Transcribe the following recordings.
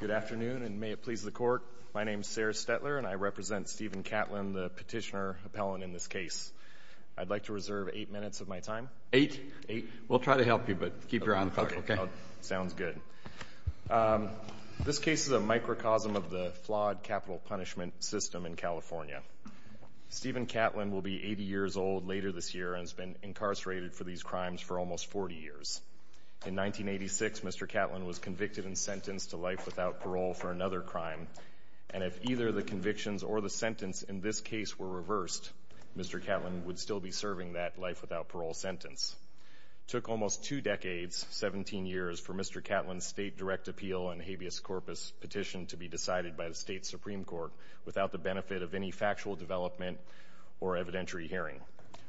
Good afternoon, and may it please the Court. My name is Sarah Stetler, and I represent Stephen Catlin, the petitioner appellant in this case. I'd like to reserve eight minutes of my time. Eight? Eight. We'll try to help you, but keep your eye on the clock. Okay. Sounds good. This case is a microcosm of the flawed capital punishment system in California. Stephen Catlin will be 80 years old later this year and has been incarcerated for these crimes for almost 40 years. In 1986, Mr. Catlin was convicted and sentenced to life without parole for another crime, and if either the convictions or the sentence in this case were reversed, Mr. Catlin would still be serving that life without parole sentence. It took almost two decades, 17 years, for Mr. Catlin's state direct appeal and habeas corpus petition to be decided by the state Supreme Court without the benefit of any factual development or evidentiary hearing.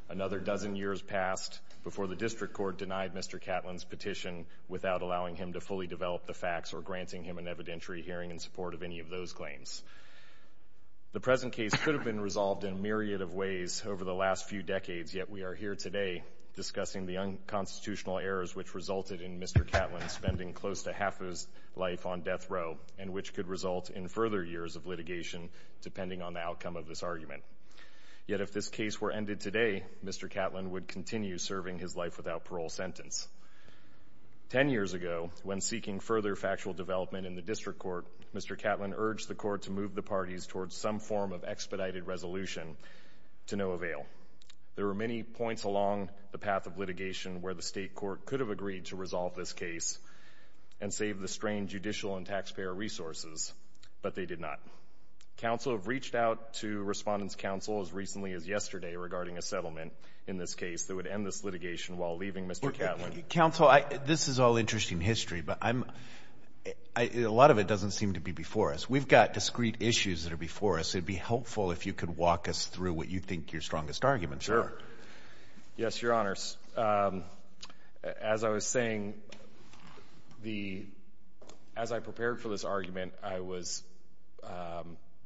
Another dozen years passed before the district court denied Mr. Catlin's petition without allowing him to fully develop the facts or granting him an evidentiary hearing in support of any of those claims. The present case could have been resolved in a myriad of ways over the last few decades, yet we are here today discussing the unconstitutional errors which resulted in Mr. Catlin spending close to half of his life on death row and which could result in further years of litigation depending on the outcome of this argument. Yet if this case were ended today, Mr. Catlin would continue serving his life without parole sentence. Ten years ago, when seeking further factual development in the district court, Mr. Catlin urged the court to move the parties towards some form of expedited resolution to no avail. There were many points along the path of litigation where the state court could have agreed to resolve this case and save the strained judicial and taxpayer resources, but they did not. Council have reached out to Respondents' Council as recently as yesterday regarding a settlement in this case that would end this litigation while leaving Mr. Catlin. Counsel, this is all interesting history, but a lot of it doesn't seem to be before us. We've got discreet issues that are before us. It would be helpful if you could walk us through what you think your strongest argument. Sure. Yes, Your Honors. As I was saying, as I prepared for this argument, I was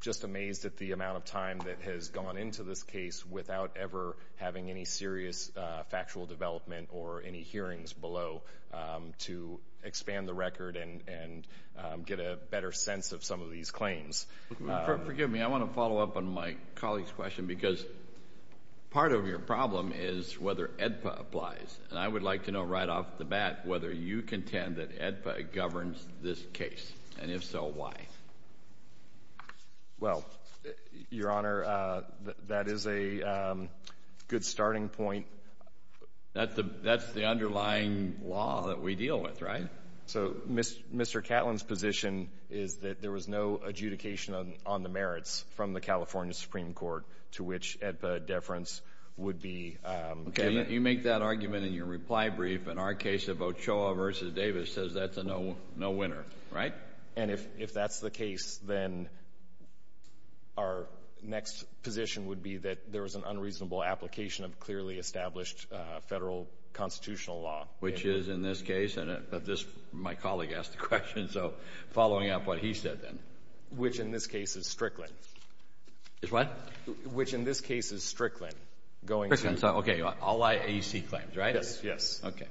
just amazed at the amount of time that has gone into this case without ever having any serious factual development or any hearings below to expand the record and get a better sense of some of these claims. Forgive me, I want to follow up on my colleague's question because part of your problem is whether AEDPA applies. I would like to know right off the bat whether you contend that AEDPA governs this case, and if so, why? Well, Your Honor, that is a good starting point. That's the underlying law that we deal with, right? So Mr. Catlin's position is that there was no adjudication on the merits from the California Supreme Court to which AEDPA deference would be given. You make that argument in your reply brief, and our case of Ochoa v. Davis says that's a no-winner, right? And if that's the case, then our next position would be that there was an unreasonable application of clearly established federal constitutional law. Which is in this case, and my colleague asked the question, so following up what he said then. Which in this case is Strickland. What? Which in this case is Strickland. Okay, all AEC claims, right? Yes. Okay.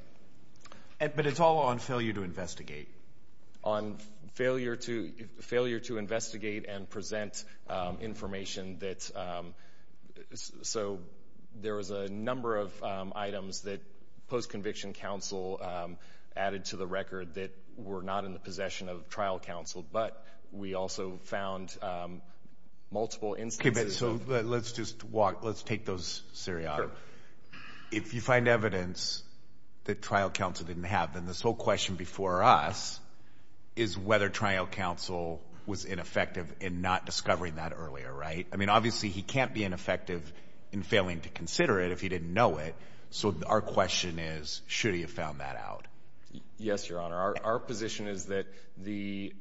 But it's all on failure to investigate. On failure to investigate and present information that, so there was a number of items that post-conviction counsel added to the record that were not in the possession of trial counsel, but we also found multiple instances. Okay, but so let's just walk, let's take those, Siri, out. Sure. If you find evidence that trial counsel didn't have, then this whole question before us is whether trial counsel was ineffective in not discovering that earlier, right? I mean, obviously he can't be ineffective in failing to consider it if he didn't know it. So our question is, should he have found that out? Yes, your honor. Our position is that the,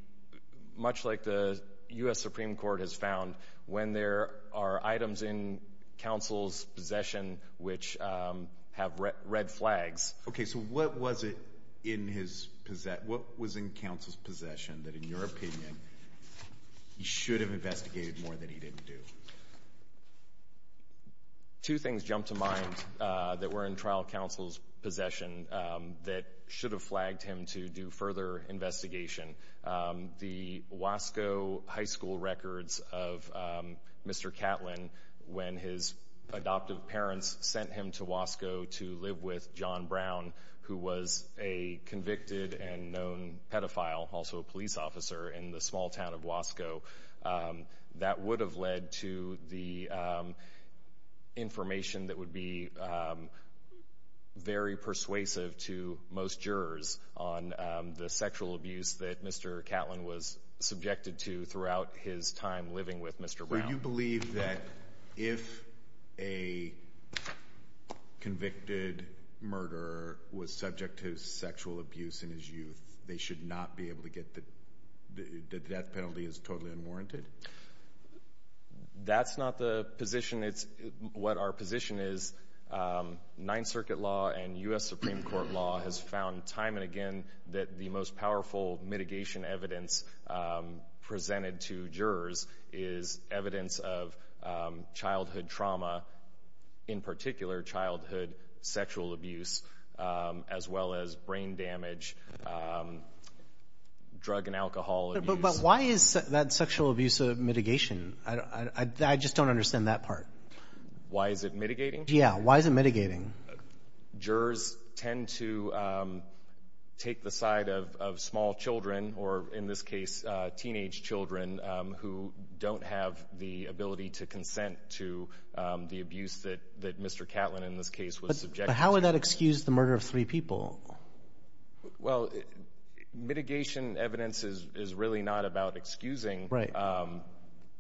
much like the U.S. Supreme Court has found when there are items in counsel's possession which have red flags. Okay, so what was it in his, what was in counsel's possession that in your opinion he should have investigated more than he didn't do? Two things jumped to mind that were in trial counsel's possession that should have flagged him to do further investigation. The Wasco High School records of Mr. Catlin, when his adoptive parents sent him to Wasco to live with John Brown, who was a convicted and known pedophile, also a police officer in the small town of Wasco, um, that would have led to the, um, information that would be, um, very persuasive to most jurors on, um, the sexual abuse that Mr. Catlin was subjected to throughout his time living with Mr. Brown. So you believe that if a convicted murderer was subject to sexual abuse in his youth, they should not be able to get the death penalty as totally unwarranted? That's not the position. It's, what our position is, um, Ninth Circuit law and U.S. Supreme Court law has found time and again that the most powerful mitigation evidence, um, presented to jurors is evidence of, um, childhood trauma, in particular childhood sexual abuse, um, as well as brain damage, um, drug and alcohol abuse. But why is that sexual abuse a mitigation? I just don't understand that part. Why is it mitigating? Yeah, why is it mitigating? Jurors tend to, um, take the side of, of small children, or in this case, uh, teenage children, um, who don't have the ability to consent to, um, the abuse that, that Mr. Catlin in this case was subjected to. Why does that excuse the murder of three people? Well, mitigation evidence is, is really not about excusing, um,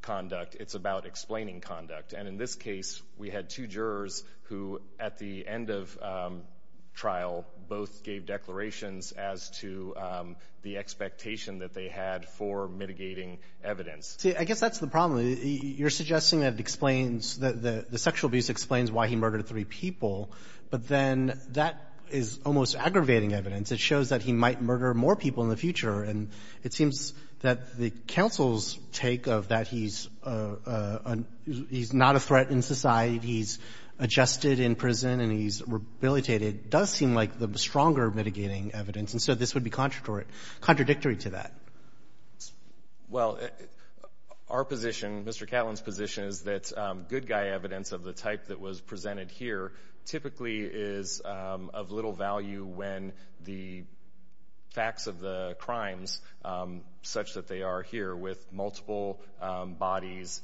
conduct. It's about explaining conduct. And in this case, we had two jurors who at the end of, um, trial both gave declarations as to, um, the expectation that they had for mitigating evidence. See, I guess that's the problem. You're suggesting that it explains that the, the sexual explains why he murdered three people, but then that is almost aggravating evidence. It shows that he might murder more people in the future. And it seems that the counsel's take of that he's, uh, uh, he's not a threat in society, he's adjusted in prison, and he's rehabilitated does seem like the stronger mitigating evidence. And so this would be contradictory to that. Well, our position, Mr. Catlin's position is that, um, good guy evidence of the type that was presented here typically is, um, of little value when the facts of the crimes, um, such that they are here with multiple, um, bodies,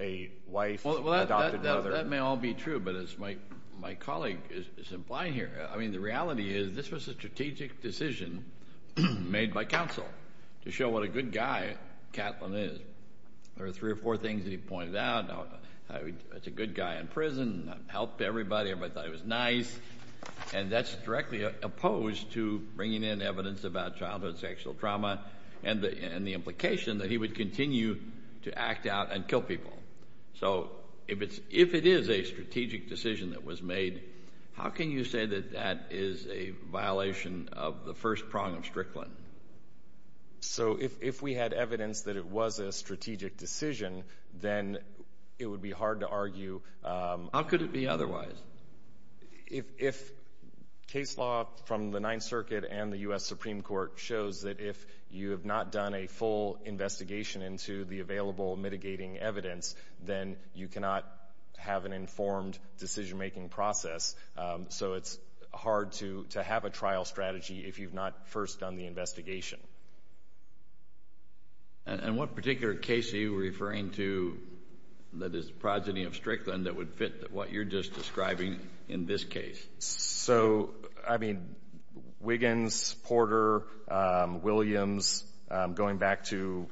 a wife, adopted mother. That may all be true, but as my, my colleague is implying here, I mean, the reality is this was a strategic decision made by counsel to show what a three or four things that he pointed out. It's a good guy in prison, helped everybody, everybody thought it was nice. And that's directly opposed to bringing in evidence about childhood sexual trauma and the, and the implication that he would continue to act out and kill people. So if it's, if it is a strategic decision that was made, how can you say that that is a violation of the first decision? Then it would be hard to argue. Um, how could it be? Otherwise, if, if case law from the Ninth Circuit and the U. S. Supreme Court shows that if you have not done a full investigation into the available mitigating evidence, then you cannot have an informed decision making process. Um, so it's hard to, to have a trial strategy if you've not first done the investigation And what particular case are you referring to that is the progeny of Strickland that would fit what you're just describing in this case? So, I mean, Wiggins, Porter, um, Williams, um, going back to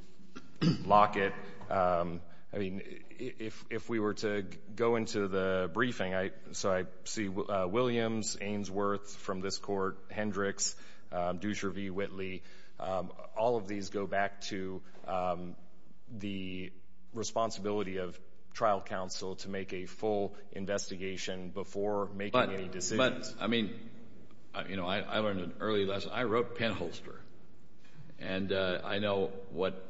Lockett. Um, I mean, if, if we were to go into the briefing, I, so I see Williams, Ainsworth from this Um, all of these go back to, um, the responsibility of trial counsel to make a full investigation before making any decisions. But, I mean, you know, I learned an early lesson. I wrote Penholster and I know what,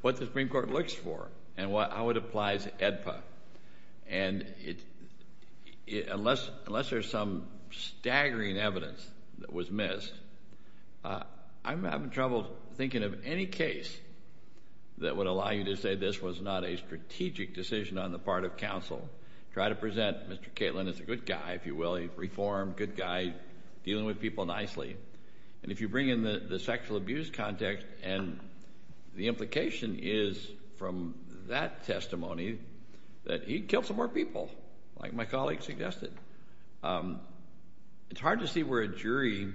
what the Supreme Court looks for and how it applies to AEDPA. And it, unless, unless there's some staggering evidence that was missed, uh, I'm having trouble thinking of any case that would allow you to say this was not a strategic decision on the part of counsel. Try to present Mr. Katelyn as a good guy, if you will, a reformed good guy dealing with people nicely. And if you bring in the sexual abuse context and the implication is from that testimony that he killed some more people, like my colleague suggested, um, it's hard to see where a jury,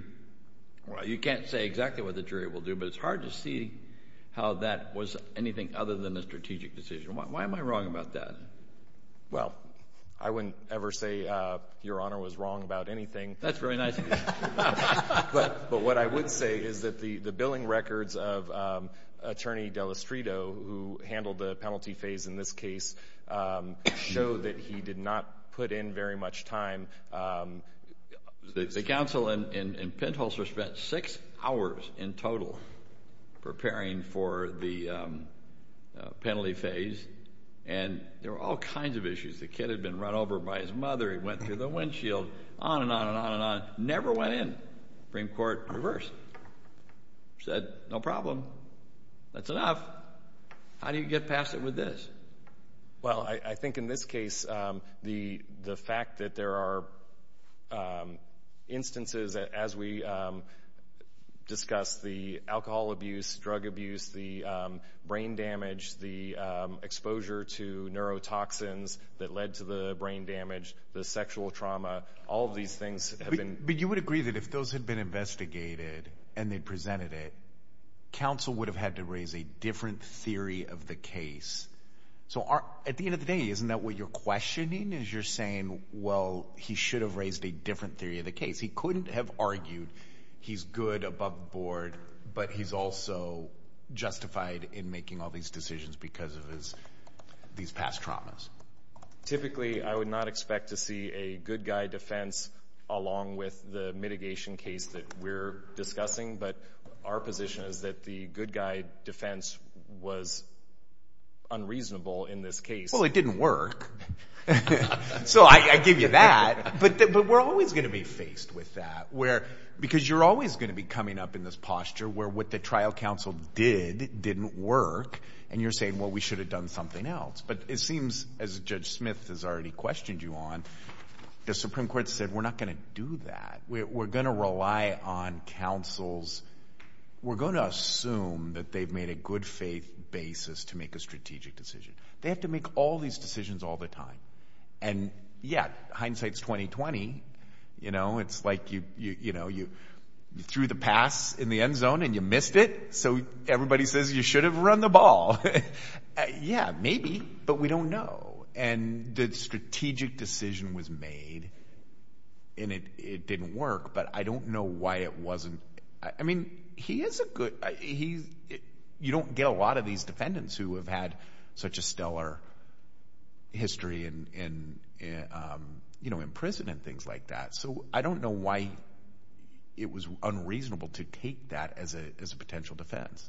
well, you can't say exactly what the jury will do, but it's hard to see how that was anything other than a strategic decision. Why am I wrong about that? Well, I wouldn't ever say, uh, Your Honor was wrong about anything. That's very nice. But what I would say is that the, the billing records of, um, Attorney Delastrito who handled the penalty phase in this case, um, show that he did not put in very much time. Um, the counsel and, and, and Pentholzer spent six hours in total preparing for the, um, penalty phase. And there were all kinds of issues. The kid had been run over by his mother. He went through the windshield, on and on and on and on. Never went in. Supreme Court reversed. Said, no problem. That's enough. How do you get past it with this? Well, I, I think in this case, um, the, the fact that there are, um, instances as we, um, discuss the alcohol abuse, drug abuse, the, um, brain damage, the, um, exposure to neurotoxins that led to the brain damage, the sexual trauma, all of these things have been... You would agree that if those had been investigated and they presented it, counsel would have had to raise a different theory of the case. So, aren't, at the end of the day, isn't that what you're questioning is you're saying, well, he should have raised a different theory of the case. He couldn't have argued he's good above board, but he's also justified in making all these decisions because of his, these past traumas. Typically, I would not expect to see a good guy defense along with the mitigation case that we're discussing, but our position is that the good guy defense was unreasonable in this case. Well, it didn't work. So, I, I give you that, but, but we're always going to be faced with that where, because you're always going to be coming up in this posture where what the trial counsel did, didn't work. And you're saying, well, we should have done something else. But it seems as Judge Smith has already questioned you on, the Supreme Court said, we're not going to do that. We're going to rely on counsels. We're going to assume that they've made a good faith basis to make a strategic decision. They have to make all these decisions all the time. And yet hindsight's 20, 20, you know, it's like you, you, you know, you, you threw the pass in the end zone and you missed it. So everybody says you should have run the ball. Yeah, maybe, but we don't know. And the strategic decision was made and it, it didn't work, but I don't know why it wasn't. I mean, he is a good, he's, you don't get a lot of these defendants who have had such a stellar history in, in, you know, in prison and things like that. So I don't know why it was unreasonable to take that as a, as a potential defense.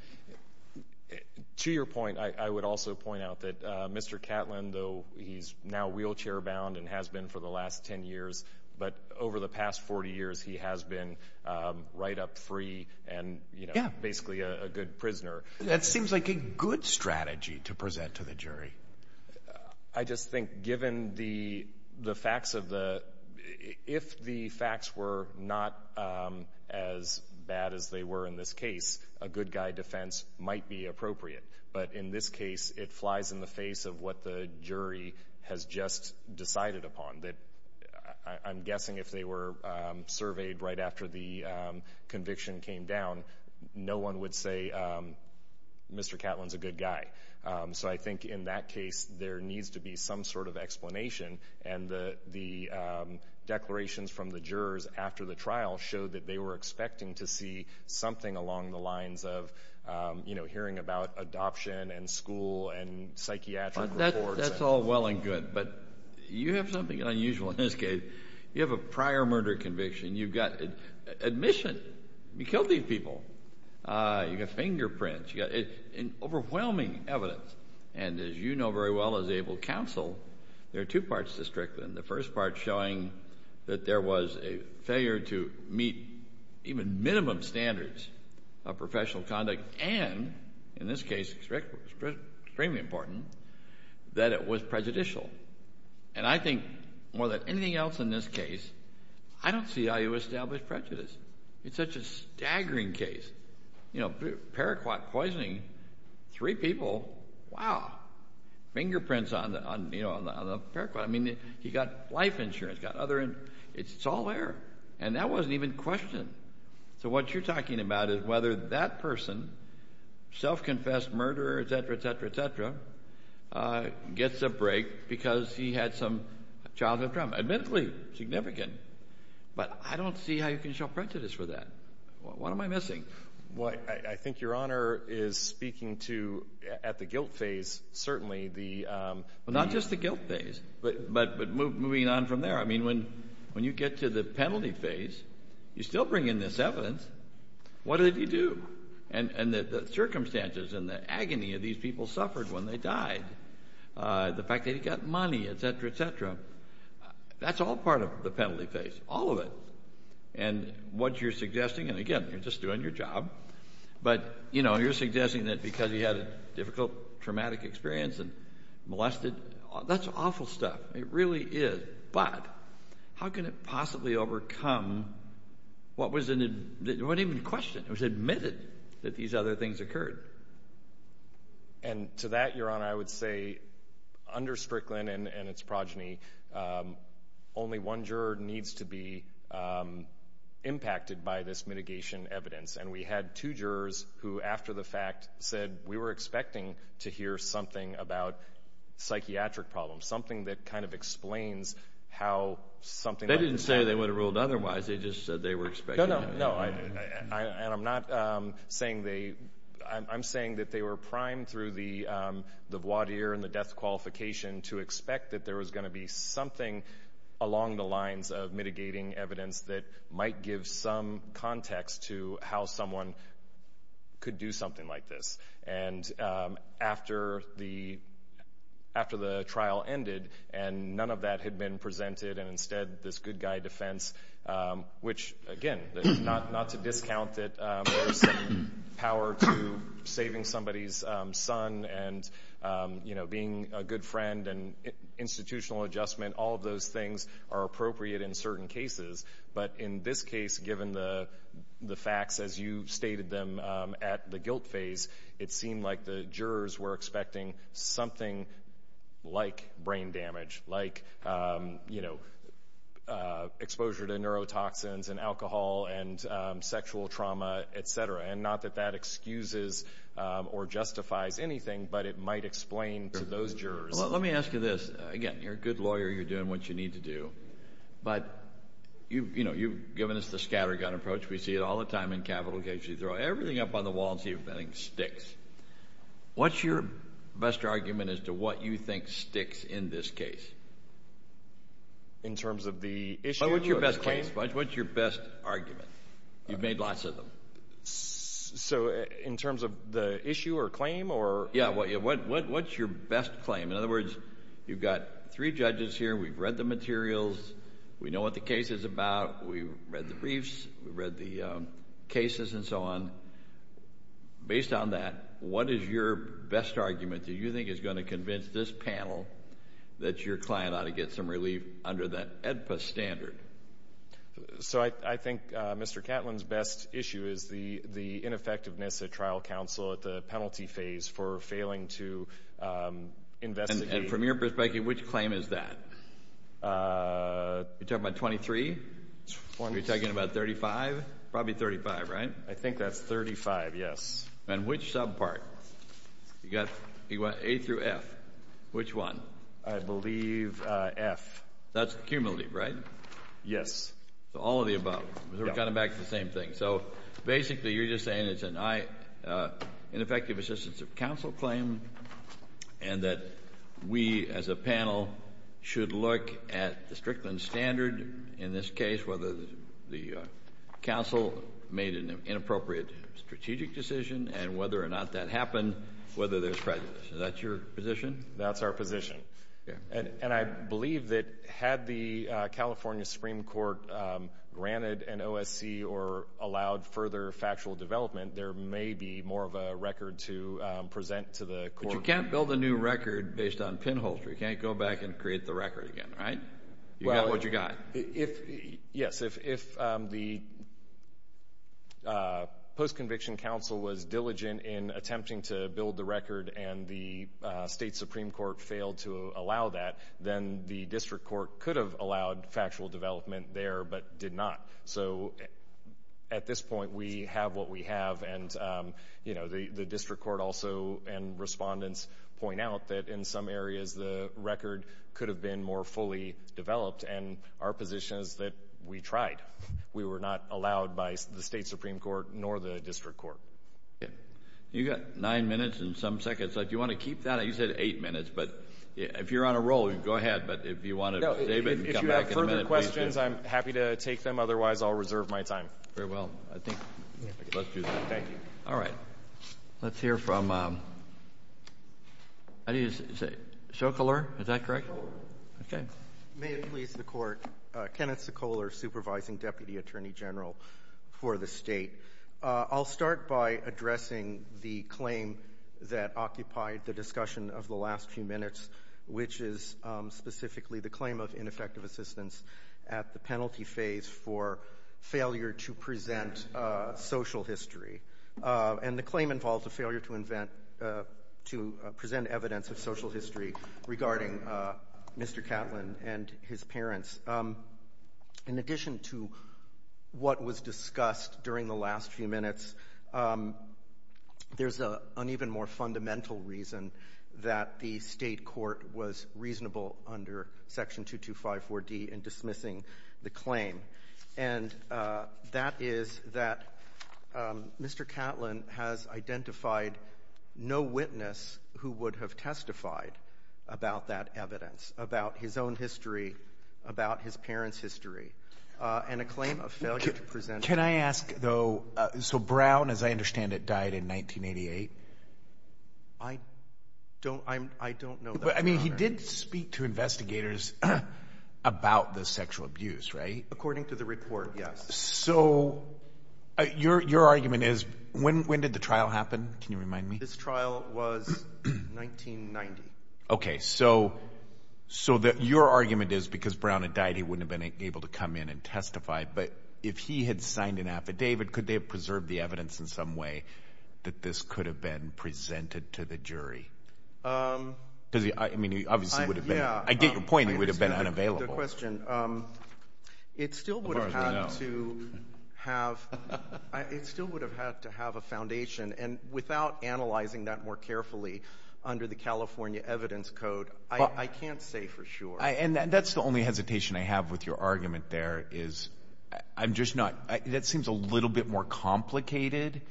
To your point, I would also point out that Mr. Catlin, though he's now wheelchair bound and has been for the last 10 years, but over the past 40 years, he has been right up free and, you know, basically a good prisoner. That seems like a good strategy to present to the jury. I just think given the, the facts of the, if the facts were not as bad as they were in this case, a good guy defense might be appropriate. But in this case, it flies in the face of what the jury has just decided upon that I'm guessing if they were surveyed right after the conviction came down, no one would say Mr. Catlin's a good guy. So I think in that case, there needs to be some sort of explanation. And the, the declarations from the jurors after the trial showed that they were expecting to see something along the lines of, you know, hearing about adoption and school and psychiatric reports. That's all well and good. But you have something unusual in this case. You have a prior murder conviction. You've got admission. You killed these people. You got fingerprints. You got overwhelming evidence. And as you know very well as able counsel, there are two parts to Strickland. The first part showing that there was a failure to meet even minimum standards of professional conduct and, in this case, extremely important, that it was prejudicial. And I think more than anything else in this case, I don't see how you establish prejudice. It's such a staggering case. You know, Paraquat poisoning, three people, wow. Fingerprints on, you know, on the Paraquat. I mean, he got life insurance, got other, it's all there. And that wasn't even questioned. So what you're talking about is whether that person, self-confessed murderer, et cetera, et cetera, et cetera, gets a break because he had some childhood trauma. Admittedly, significant. But I don't see how you can show prejudice for that. What am I missing? Well, I think Your Honor is speaking to, at the guilt phase, certainly the... Well, not just the guilt phase, but moving on from there. When you get to the penalty phase, you still bring in this evidence. What did he do? And the circumstances and the agony of these people suffered when they died. The fact that he got money, et cetera, et cetera. That's all part of the penalty phase. All of it. And what you're suggesting, and again, you're just doing your job, but you're suggesting that because he had a difficult traumatic experience and molested, that's awful stuff. It really is. But how can it possibly overcome what wasn't even questioned? It was admitted that these other things occurred. And to that, Your Honor, I would say under Strickland and its progeny, only one juror needs to be impacted by this mitigation evidence. And we had two jurors who, after the fact, said, we were expecting to hear something about psychiatric problems. Something that kind of explains how something... They didn't say they would have ruled otherwise. They just said they were expecting... No, no. And I'm not saying they... I'm saying that they were primed through the voir dire and the death qualification to expect that there was going to be something along the lines of mitigating evidence that might give some context to how someone could do something like this. And after the trial ended, and none of that had been presented, and instead, this good guy defense, which again, not to discount that there is some power to saving somebody's son and being a good friend and institutional adjustment. All of those things are appropriate in certain cases. But in this case, given the facts as you stated them at the guilt phase, it seemed like the jurors were expecting something like brain damage, like exposure to neurotoxins and alcohol and sexual trauma, etc. And not that that excuses or justifies anything, but it might explain to those jurors... Again, you're a good lawyer. You're doing what you need to do. But you've given us the scattergun approach. We see it all the time in capital cases. You throw everything up on the wall and see if anything sticks. What's your best argument as to what you think sticks in this case? In terms of the issue? What's your best claim? What's your best argument? You've made lots of them. So in terms of the issue or claim or... What's your best claim? In other words, you've got three judges here. We've read the materials. We know what the case is about. We've read the briefs. We've read the cases and so on. Based on that, what is your best argument that you think is going to convince this panel that your client ought to get some relief under that AEDPA standard? So I think Mr. Catlin's best issue is the ineffectiveness at trial counsel at the penalty phase for failing to investigate. And from your perspective, which claim is that? You're talking about 23? You're talking about 35? Probably 35, right? I think that's 35, yes. And which subpart? You got A through F. Which one? I believe F. That's cumulative, right? Yes. So all of the above. They're kind of back to the same thing. So basically, you're just saying it's an ineffective assistance of counsel claim and that we as a panel should look at the Strickland standard in this case, whether the counsel made an inappropriate strategic decision and whether or not that happened, whether there's prejudice. Is that your position? That's our position. And I believe that had the California Supreme Court granted an OSC or allowed further factual development, there may be more of a record to present to the court. But you can't build a new record based on pinholes. You can't go back and create the record again, right? You got what you got. Yes. If the post-conviction counsel was diligent in attempting to build the record and the state Supreme Court failed to allow that, then the district court could have allowed factual development there but did not. So at this point, we have what we have. And the district court also and respondents point out that in some areas, the record could have been more fully developed. And our position is that we tried. We were not allowed by the state Supreme Court nor the district court. You got nine minutes and some seconds left. You want to keep that? You said eight minutes. But if you're on a roll, go ahead. But if you want to come back in a minute. If you have further questions, I'm happy to take them. Otherwise, I'll reserve my time. Very well. I think let's do that. Thank you. All right. Let's hear from. How do you say? Show color. Is that correct? Okay. May it please the court. Kenneth Sikoler, Supervising Deputy Attorney General for the I'll start by addressing the claim that occupied the discussion of the last few minutes, which is specifically the claim of ineffective assistance at the penalty phase for failure to present social history. And the claim involves a failure to invent to present evidence of social history. And I think in the last few minutes, there's an even more fundamental reason that the state court was reasonable under Section 2254D in dismissing the claim. And that is that Mr. Catlin has identified no witness who would have testified about that evidence, about his own about his parents' history and a claim of failure to present. Can I ask, though? So Brown, as I understand it, died in 1988. I don't. I don't know. But I mean, he did speak to investigators about the sexual abuse, right? According to the report. Yes. So your argument is when did the happen? Can you remind me? This trial was 1990. Okay. So so that your argument is because Brown had died, he wouldn't have been able to come in and testify. But if he had signed an affidavit, could they have preserved the evidence in some way that this could have been presented to the jury? Does he? I mean, he obviously would have. Yeah, I get your point. He would have been unavailable. The question, it still would have to have it still would have had to have a foundation. And without analyzing that more carefully under the California Evidence Code, I can't say for sure. And that's the only hesitation I have with your argument there is I'm just not that seems a little bit more complicated.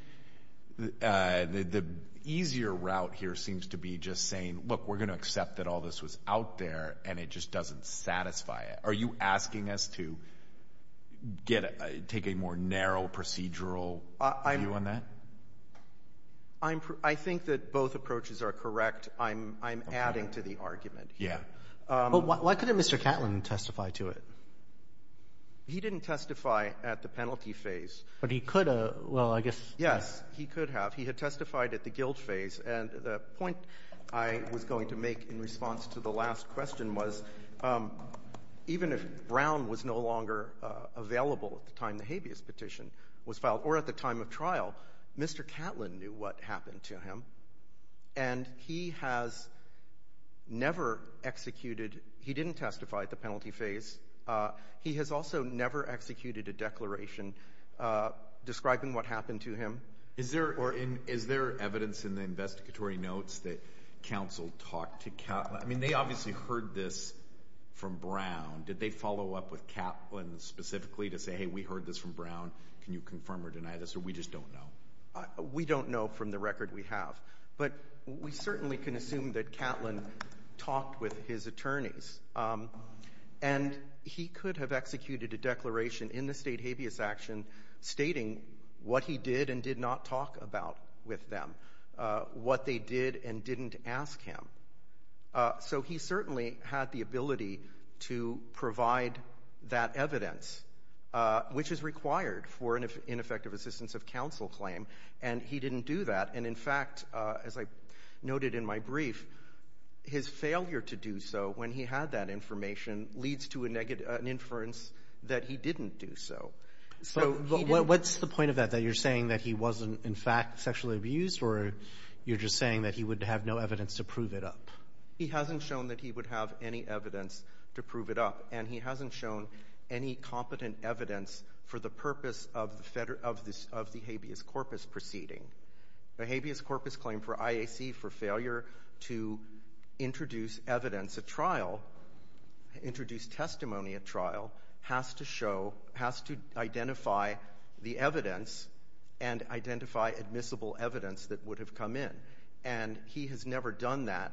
The easier route here seems to be just saying, look, we're going to accept that all this was out there, and it just doesn't satisfy it. Are you asking us to get take a more narrow procedural view on that? I'm I think that both approaches are correct. I'm I'm adding to the argument. Yeah. But why couldn't Mr. Catlin testify to it? He didn't testify at the penalty phase. But he could have. Well, I guess. Yes, he could have. He had testified at the guilt phase. And the point I was going to make in response to the last question was, even if Brown was no longer available at the time the habeas petition was filed or at the time of trial, Mr. Catlin knew what happened to him. And he has never executed. He didn't testify at the penalty phase. He has also never executed a declaration describing what happened to him. Is there or is there evidence in the investigatory notes that counsel talked to? I mean, they obviously heard this from Brown. Did they follow up with Catlin specifically to say, hey, we heard this from Brown. Can you confirm or deny this? Or we just don't know. We don't know from the record we have, but we certainly can assume that Catlin talked with his attorneys and he could have executed a declaration in the state stating what he did and did not talk about with them, what they did and didn't ask him. So he certainly had the ability to provide that evidence, which is required for an ineffective assistance of counsel claim. And he didn't do that. And in fact, as I noted in my brief, his failure to do so when he had that information leads to an inference that he didn't do so. So what's the point of that, that you're saying that he wasn't, in fact, sexually abused or you're just saying that he would have no evidence to prove it up? He hasn't shown that he would have any evidence to prove it up. And he hasn't shown any competent evidence for the purpose of the habeas corpus proceeding. The habeas corpus claim for IAC for failure to introduce evidence at trial, introduce testimony at trial, has to show, has to identify the evidence and identify admissible evidence that would have come in. And he has never done that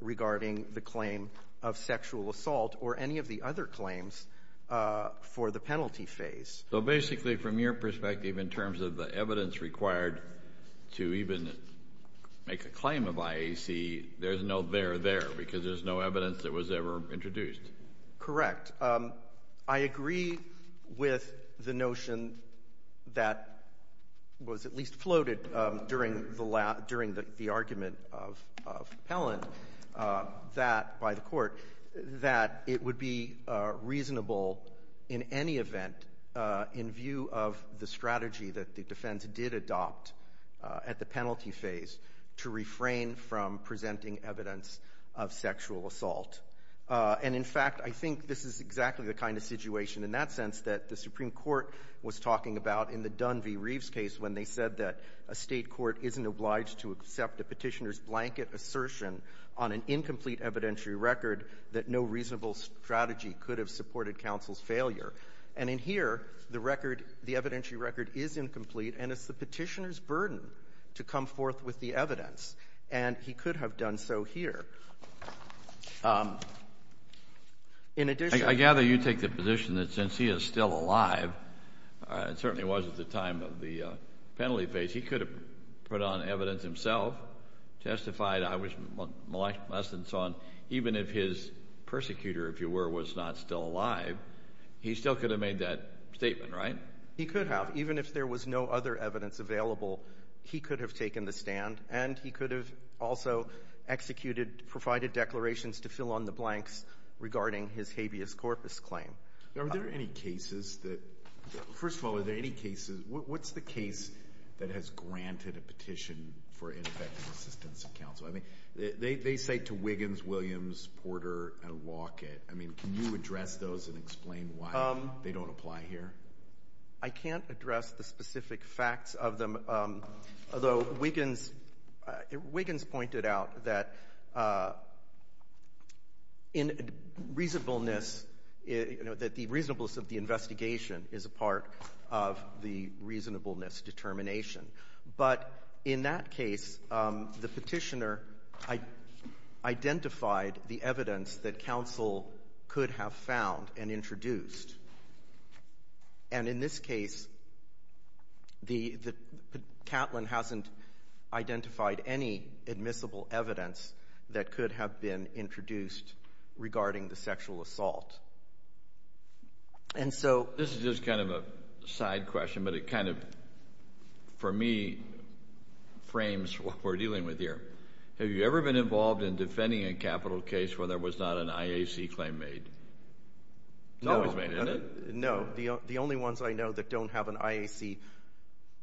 regarding the claim of sexual assault or any of the other claims for the penalty phase. So basically, from your perspective, in terms of the evidence required to even make a claim of IAC, there's no there there, because there's no evidence that was ever introduced. Correct. I agree with the notion that was at least floated during the argument of Pelland, that by the court, that it would be reasonable in any event, in view of the strategy that the defense did adopt at the penalty phase, to refrain from presenting evidence of sexual assault. And in fact, I think this is exactly the kind of situation in that sense that the Supreme Court was talking about in the Dunvey Reeves case when they said that a state court isn't obliged to accept a petitioner's blanket assertion on an incomplete evidentiary record that no reasonable strategy could have supported counsel's failure. And in here, the record, the evidentiary record is incomplete, and it's the evidence. And he could have done so here. In addition... I gather you take the position that since he is still alive, and certainly was at the time of the penalty phase, he could have put on evidence himself, testified, I wish my blessings on, even if his persecutor, if you were, was not still alive, he still could have made that statement, right? He could have. Even if there was no other evidence available, he could have taken the stand, and he could have also executed, provided declarations to fill on the blanks regarding his habeas corpus claim. Are there any cases that... First of all, are there any cases... What's the case that has granted a petition for ineffective assistance of counsel? I mean, they say to Wiggins, Williams, Porter, and Lockett. I mean, can you address those and explain why they don't apply here? I can't address the specific facts of them, although Wiggins pointed out that in reasonableness, you know, that the reasonableness of the investigation is a part of the reasonableness determination. But in that case, the petitioner identified the evidence that counsel could have found and introduced. And in this case, Catlin hasn't identified any admissible evidence that could have been introduced regarding the sexual assault. And so... This is just kind of a side question, but it kind of, for me, frames what we're dealing with here. Have you ever been involved in defending a capital case where there was not an IAC claim made? No. It's always made, isn't it? No. The only ones I know that don't have an IAC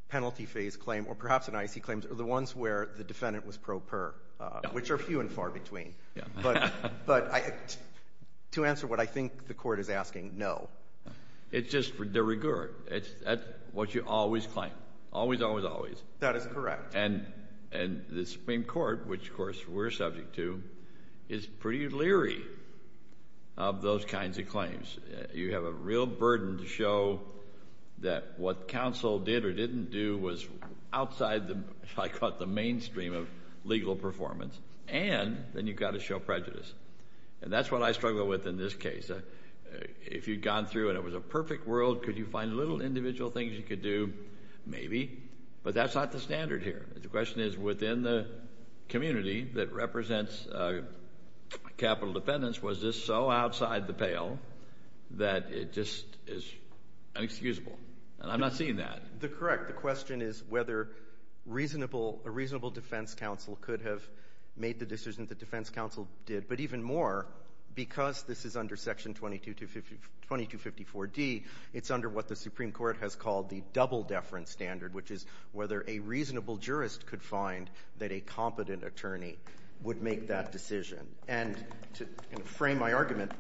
penalty phase claim, or perhaps an IAC claim, are the ones where the defendant was pro per, which are few and far between. But to answer what I think the court is asking, no. It's just de rigueur. It's what you always claim. Always, always, always. That is correct. And the Supreme Court, which, of course, we're subject to, is pretty leery of those kinds of claims. You have a real burden to show that what counsel did or didn't do was outside the mainstream of legal performance. And then you've got to show prejudice. And that's what I struggle with in this case. If you'd gone through and it was a perfect world, could you find little individual things you could do? Maybe. But that's not the standard here. The question is, within the community that represents capital defendants, was this so outside the pale that it just is inexcusable? And I'm not seeing that. Correct. The question is whether a reasonable defense counsel could have made the decision that defense counsel did. But even more, because this is under Section 2254d, it's under what the Supreme Court has called the double deference standard, which is whether a reasonable jurist could find that a competent attorney would make that decision. And to frame my argument,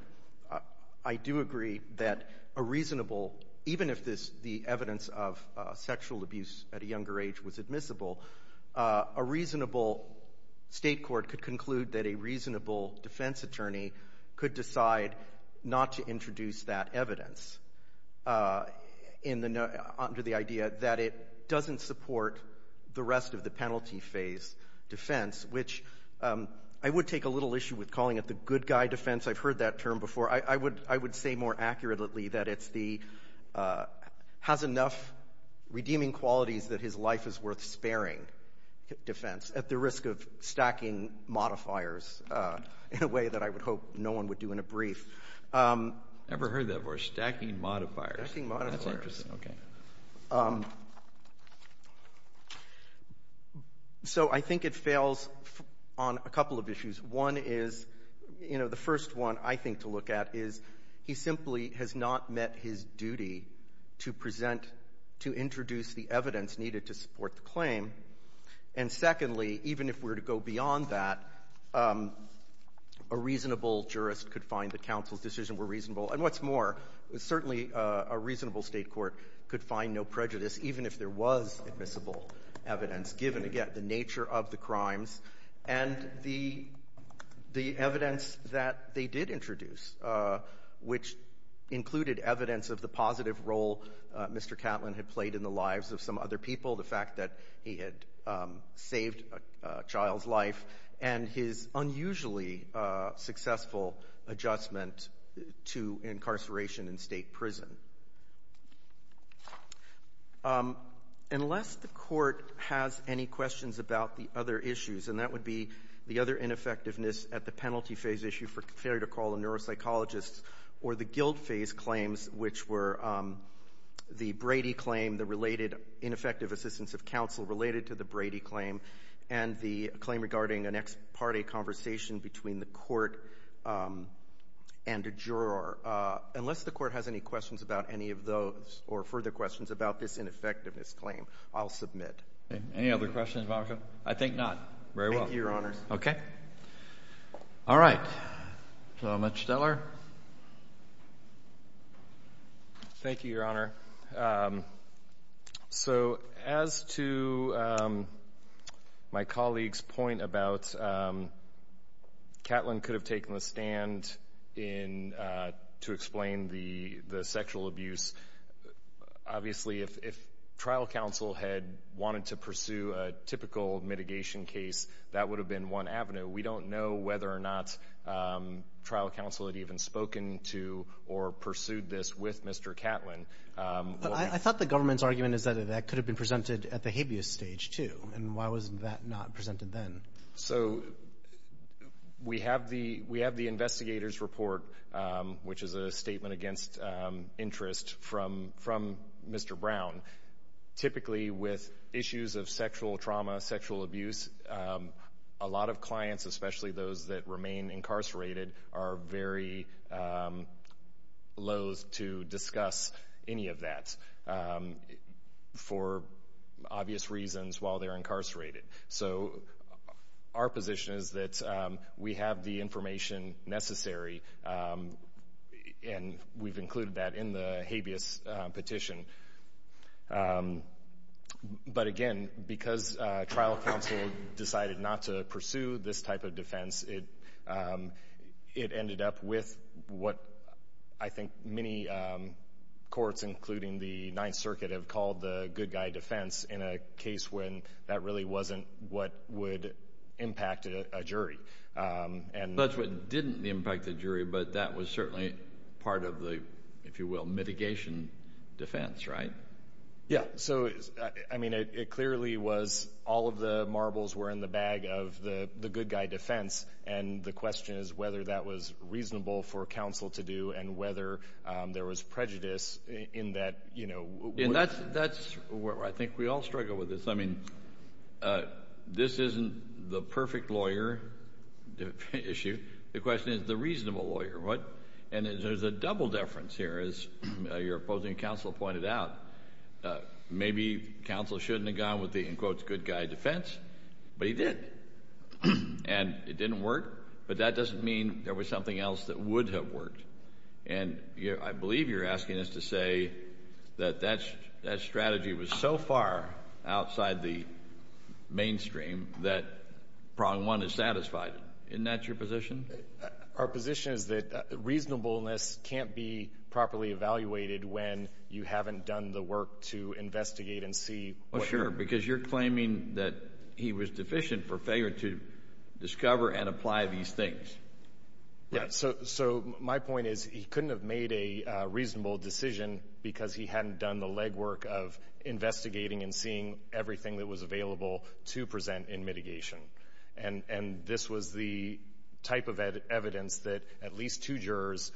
I do agree that a reasonable, even if the evidence of sexual abuse at a younger age was admissible, a reasonable state court could that a reasonable defense attorney could decide not to introduce that evidence under the idea that it doesn't support the rest of the penalty phase defense, which I would take a little issue with calling it the good guy defense. I've heard that term before. I would say more accurately that it has enough redeeming qualities that his life is worth sparing defense at the risk of stacking modifiers in a way that I would hope no one would do in a brief. Ever heard that word, stacking modifiers? Stacking modifiers. That's interesting. Okay. So I think it fails on a couple of issues. One is, you know, the first one I think to look at is he simply has not met his duty to present, to introduce the evidence needed to support the claim. And secondly, even if we were to go beyond that, a reasonable jurist could find that counsel's decision were reasonable. And what's more, certainly a reasonable state court could find no prejudice, even if there was admissible evidence, given, again, the nature of the crimes and the evidence that they did introduce, which included evidence of the role Mr. Catlin had played in the lives of some other people, the fact that he had saved a child's life, and his unusually successful adjustment to incarceration in state prison. Unless the court has any questions about the other issues, and that would be the other ineffectiveness at the Brady claim, the related ineffective assistance of counsel related to the Brady claim, and the claim regarding an ex parte conversation between the court and a juror, unless the court has any questions about any of those, or further questions about this ineffectiveness claim, I'll submit. Any other questions, Monica? I think not. Very well. Thank you, Your Honors. Okay. All right. So, Mr. Steller? Thank you, Your Honor. So, as to my colleague's point about Catlin could have taken the stand to explain the sexual abuse, obviously, if trial counsel had wanted to pursue a typical mitigation case, that would have been one avenue. We don't know whether or not trial counsel had even spoken to or pursued this with Mr. Catlin. I thought the government's argument is that that could have been presented at the habeas stage, too, and why was that not presented then? So, we have the investigator's report, which is a statement against interest from Mr. Brown. Typically, with issues of sexual trauma, sexual abuse, a lot of clients, especially those that remain incarcerated, are very loathe to discuss any of that for obvious reasons while they're incarcerated. So, our position is that we have the information necessary, and we've included that in the habeas petition. But, again, because trial counsel decided not to pursue this type of defense, it ended up with what I think many courts, including the Ninth Circuit, have called the good guy defense in a case when that really wasn't what would impact a jury. That's what didn't impact the jury, but that was certainly part of the, if you will, mitigation defense, right? Yeah. So, I mean, it clearly was all of the marbles were in the bag of the good guy defense, and the question is whether that was reasonable for counsel to do and whether there was prejudice in that, you know. And that's where I think we all struggle with this. I mean, this isn't the perfect lawyer issue. The question is the reasonable lawyer, right? And there's a double deference here, as your opposing counsel pointed out. Maybe counsel shouldn't have gone with the, in quotes, good guy defense, but he did. And it didn't work, but that doesn't mean there was something else that would have worked. And I believe you're asking us to say that that strategy was so far outside the mainstream that prong one is satisfied. Isn't that your position? Our position is that reasonableness can't be properly evaluated when you haven't done the work to investigate and see. Well, sure, because you're claiming that he was deficient for failure to discover and apply these things. Yeah. So my point is he couldn't have made a reasonable decision because he hadn't done the legwork of investigating and seeing everything that was available to present in mitigation. And this was the type of evidence that at least two jurors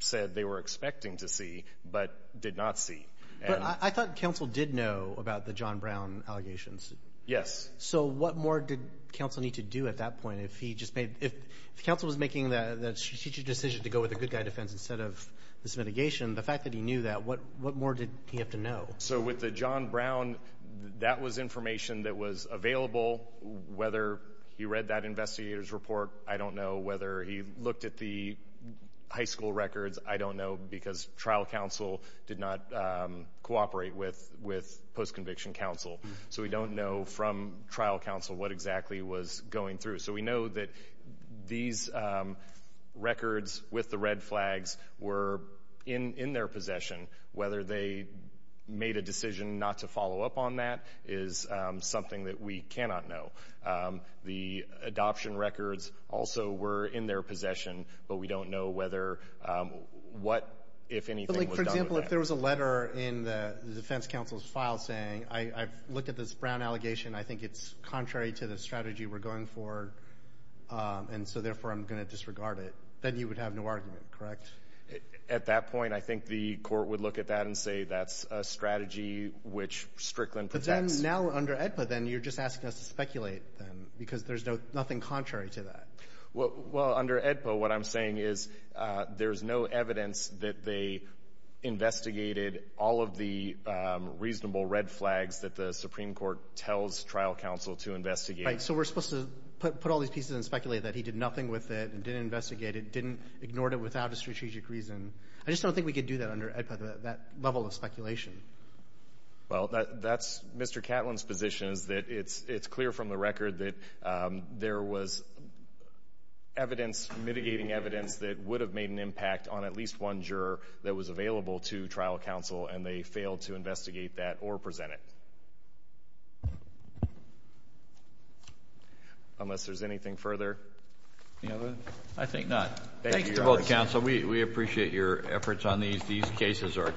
said they were expecting to see, but did not see. But I thought counsel did know about the John Brown allegations. Yes. So what did counsel need to do at that point? If he just made, if counsel was making that strategic decision to go with a good guy defense instead of this mitigation, the fact that he knew that, what more did he have to know? So with the John Brown, that was information that was available. Whether he read that investigator's report, I don't know. Whether he looked at the high school records, I don't know, because trial counsel did not cooperate with post-conviction counsel. So we was going through. So we know that these records with the red flags were in their possession. Whether they made a decision not to follow up on that is something that we cannot know. The adoption records also were in their possession, but we don't know whether, what, if anything, was done with that. But like, for example, if there was a letter in the going forward, and so therefore I'm going to disregard it, then you would have no argument, correct? At that point, I think the court would look at that and say that's a strategy which Strickland protects. But then now under AEDPA then, you're just asking us to speculate then, because there's nothing contrary to that. Well, under AEDPA, what I'm saying is there's no evidence that they investigated all of the reasonable red flags that the Supreme Court tells trial counsel to investigate. Right. So we're supposed to put all these pieces and speculate that he did nothing with it and didn't investigate it, didn't ignore it without a strategic reason. I just don't think we could do that under AEDPA, that level of speculation. Well, that's Mr. Catlin's position, is that it's clear from the record that there was evidence, mitigating evidence, that would have made an impact on at least one juror that was available to trial counsel, and they failed to investigate that or present it. Unless there's anything further? I think not. Thanks to both counsel. We appreciate your efforts on these. These cases are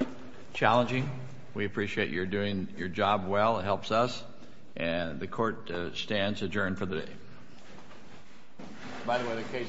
challenging. We appreciate you're doing your job well. It helps us. And the court stands adjourned for the day. By the way, the case is submitted.